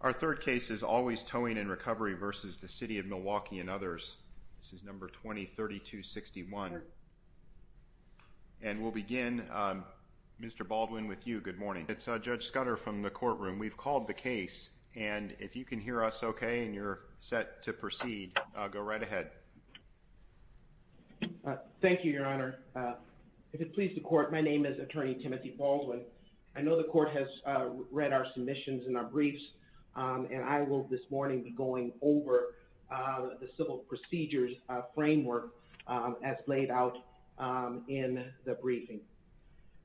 Our third case is Always Towing & Recovery v. City of Milwaukee & Others, No. 20-3261. And we'll begin, Mr. Baldwin, with you. Good morning. It's Judge Scudder from the courtroom. We've called the case, and if you can hear us okay and you're set to proceed, go right ahead. Thank you, Your Honor. If it pleases the Court, my name is Attorney Timothy Baldwin. I know the Court has read our submissions and our briefs, and I will this morning be going over the civil procedures framework as laid out in the briefing.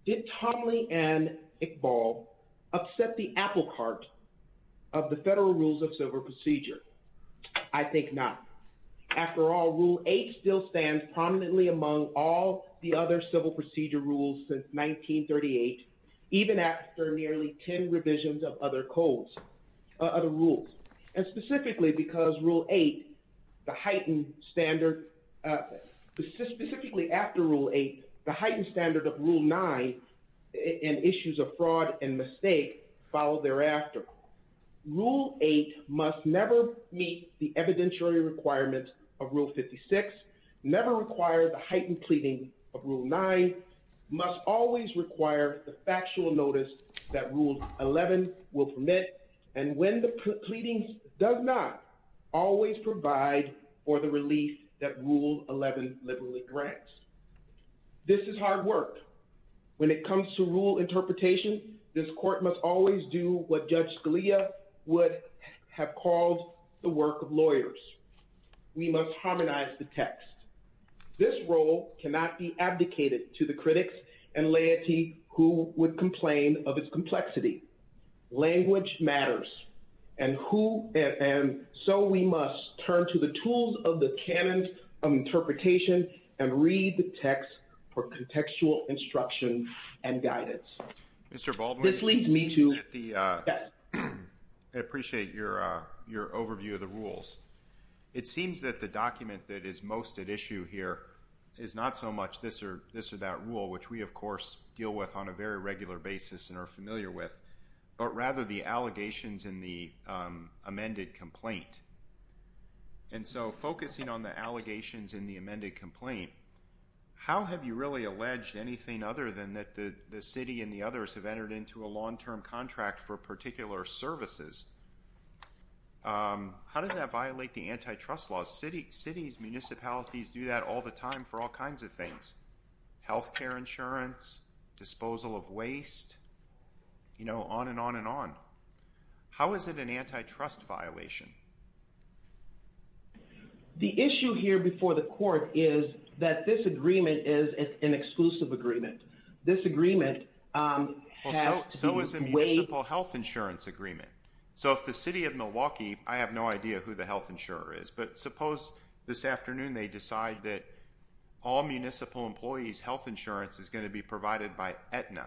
Did Tomley and Iqbal accept the apple cart of the federal rules of civil procedure? I think not. After all, Rule 8 still stands prominently among all the other civil procedure rules since 1938, even after nearly 10 revisions of other rules. And specifically because Rule 8, the heightened standard, specifically after Rule 8, the heightened standard of Rule 9 and issues of fraud and mistake followed thereafter. Rule 8 must never meet the evidentiary requirements of Rule 56, never require the heightened pleading of Rule 9, must always require the factual notice that Rule 11 will permit, and when the pleading does not, always provide for the relief that Rule 11 liberally grants. This is hard work. When it comes to rule interpretation, this Court must always do what Judge Scalia would have called the work of lawyers. We must harmonize the text. This role cannot be abdicated to the critics and laity who would complain of its complexity. Language matters, and so we must turn to the tools of the canon of interpretation and read the text for contextual instruction and guidance. Mr. Baldwin, I appreciate your overview of the rules. It seems that the document that is most at issue here is not so much this or that rule, which we, of course, deal with on a very regular basis and are familiar with, but rather the allegations in the amended complaint. And so focusing on the allegations in the amended complaint, how have you really alleged anything other than that the city and the others have entered into a long-term contract for particular services? How does that violate the antitrust laws? Cities, municipalities do that all the time for all kinds of things. Healthcare insurance, disposal of waste, you know, on and on and on. How is it an antitrust violation? The issue here before the Court is that this agreement is an exclusive agreement. This agreement has been waived. So is the municipal health insurance agreement. So if the city of Milwaukee, I have no idea who the health insurer is, but suppose this afternoon they decide that all municipal employees' health insurance is going to be provided by Aetna.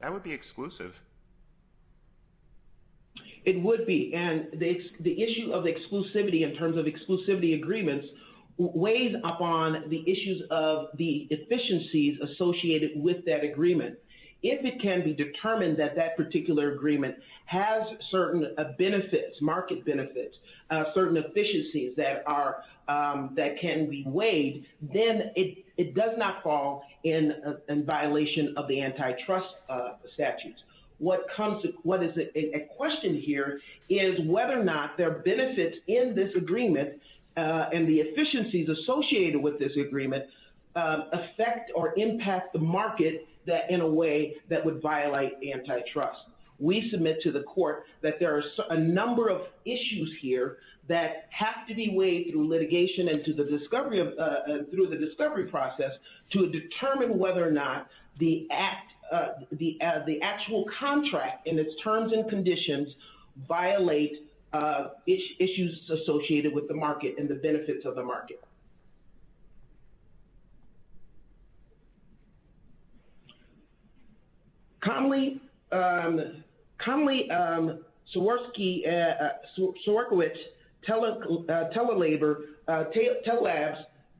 That would be exclusive. It would be. And the issue of exclusivity in terms of exclusivity agreements weighs upon the issues of the efficiencies associated with that agreement. If it can be determined that that particular agreement has certain benefits, market benefits, certain efficiencies that can be waived, then it does not fall in violation of the antitrust statutes. What is at question here is whether or not there are benefits in this agreement and the efficiencies associated with this agreement affect or impact the market in a way that violates the benefits of the market. So I would re-submit to the Court that there are a number of issues here that have to be waived through litigation and through the discovery process to determine whether or not the actual contract in its terms and conditions violate issues associated with the market and the benefits of the market. Comley, Swierkiewicz, Telalabs,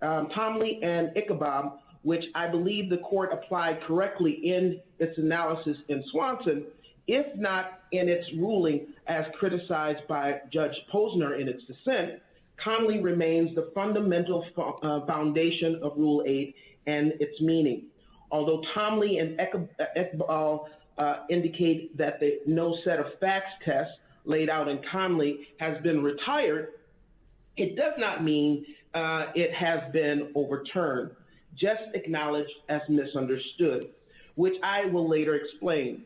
Comley, and Ichabob, which I believe the Court applied correctly in its analysis in Swanson, if not in its ruling as criticized by Judge Posner in its foundation of Rule 8 and its meaning. Although Comley and Ichabob indicate that no set of facts test laid out in Comley has been retired, it does not mean it has been overturned, just acknowledged as misunderstood, which I will later explain.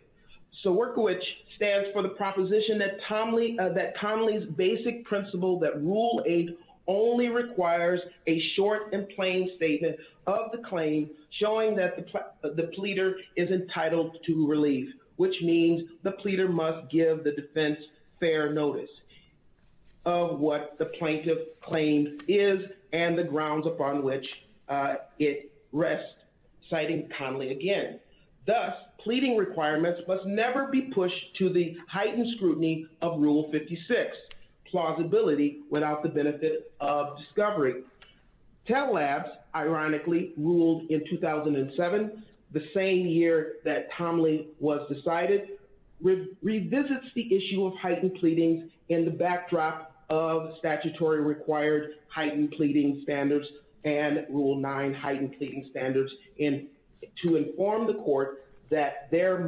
So Swierkiewicz stands for the proposition that Comley's basic principle that Rule 8 only requires a short and plain statement of the claim showing that the pleader is entitled to relief, which means the pleader must give the defense fair notice of what the plaintiff's claim is and the grounds upon which it rests, citing Comley again. Thus, pleading requirements must never be pushed to the heightened scrutiny of Rule 56, plausibility without the benefit of discovery. Telalabs, ironically, ruled in 2007, the same year that Comley was decided, revisits the issue of heightened pleadings in the backdrop of statutory required heightened pleading standards and Rule 9 heightened pleading standards to inform the Court that there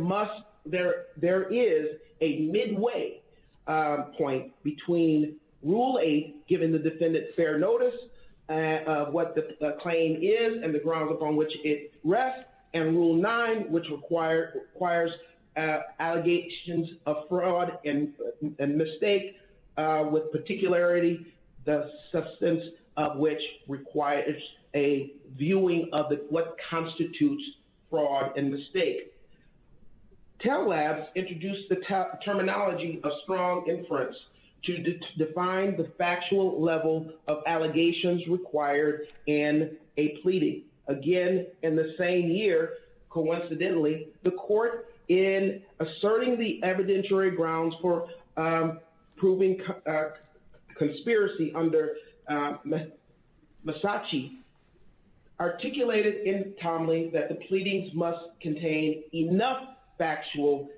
is a midway point between Rule 8, giving the defendant fair notice of what the claim is and the grounds requires allegations of fraud and mistake with particularity, the substance of which requires a viewing of what constitutes fraud and mistake. Telalabs introduced the terminology of strong inference to define the factual level of allegations required in a pleading. Again, in the same year, coincidentally, the Court, in asserting the evidentiary grounds for proving conspiracy under Massachi, articulated in Comley that the pleadings must contain enough factual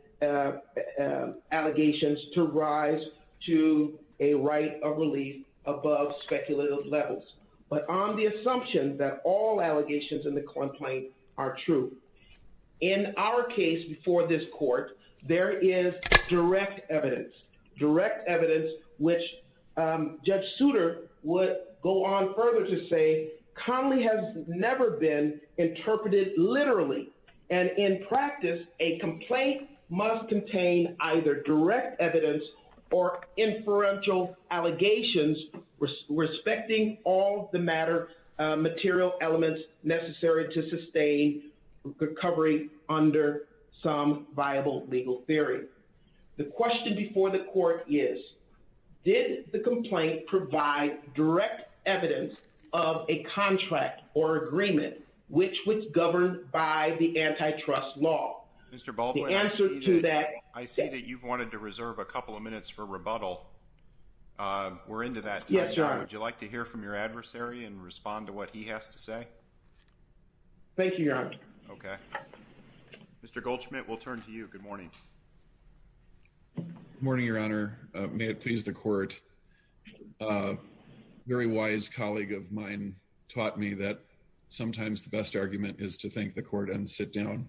allegations to rise to a right of relief above speculative levels. But on the assumption that all allegations in the complaint are true. In our case before this Court, there is direct evidence, direct evidence, which Judge Souter would go on further to say Comley has never been interpreted literally. And in practice, a complaint must contain either direct evidence or inferential allegations respecting all the matter material elements necessary to sustain recovery under some viable legal theory. The question before the Court is, did the complaint provide direct evidence of a contract or agreement which was governed by the antitrust law? Mr. Balboa, I see that you've wanted to reserve a couple of minutes for rebuttal. We're into that. Would you like to hear from your adversary and respond to what he has to say? Thank you, Your Honor. Okay. Mr. Goldschmidt, we'll turn to you. Good morning. Good morning, Your Honor. May it please the Court. A very wise colleague of mine taught me that sometimes the best argument is to thank the Court and sit down.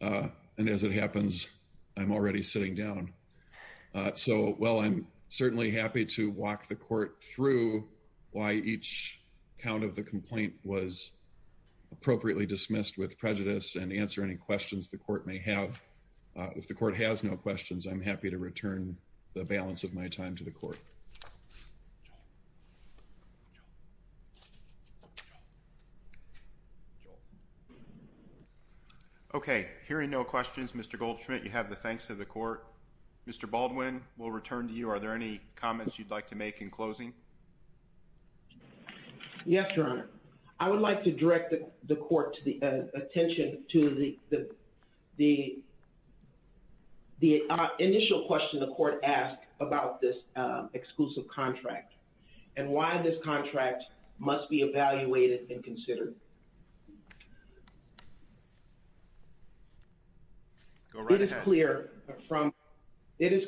And as it happens, I'm already sitting down. So while I'm certainly happy to walk the Court through why each count of the complaint was appropriately dismissed with prejudice and answer any questions the Court may have, if the Court has no questions, I'm happy to return the balance of my time to the Court. Okay. Hearing no questions, Mr. Goldschmidt, you have the thanks of the Court. Mr. Baldwin, we'll return to you. Are there any comments you'd like to make in closing? Yes, Your Honor. I would like to direct the Court's attention to the initial question the Court asked about this exclusive contract and why this contract must be evaluated and considered. Go right ahead. It is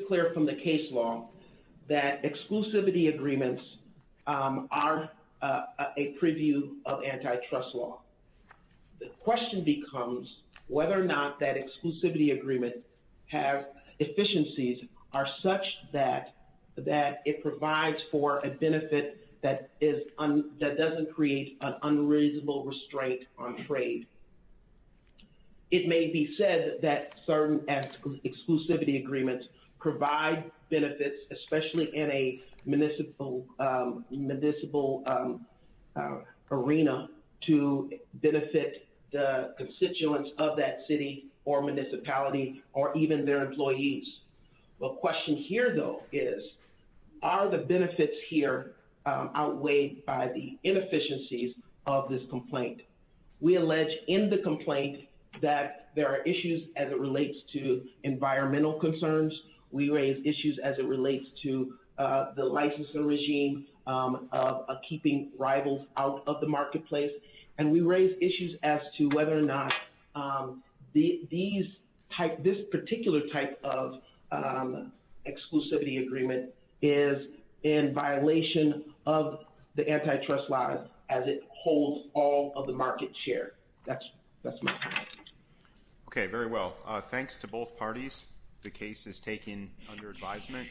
clear from the case law that exclusivity agreements are a preview of antitrust law. The question becomes whether or not that exclusivity agreement has efficiencies are such that it provides for a benefit that doesn't create an unreasonable restraint on trade. It may be said that certain exclusivity agreements provide benefits, especially in a municipal arena, to benefit the constituents of that city or municipality or even their employees. The question here, though, is are the benefits here outweighed by the inefficiencies of this complaint? We allege in the complaint that there are issues as it relates to environmental concerns. We raise issues as it relates to the licensing regime of keeping rivals out of the marketplace, and we raise issues as to whether or not this particular type of exclusivity agreement is in violation of the antitrust law as it holds all of the market share. That's my comment. Okay, very well. Thanks to both parties. The case is taken under advisement.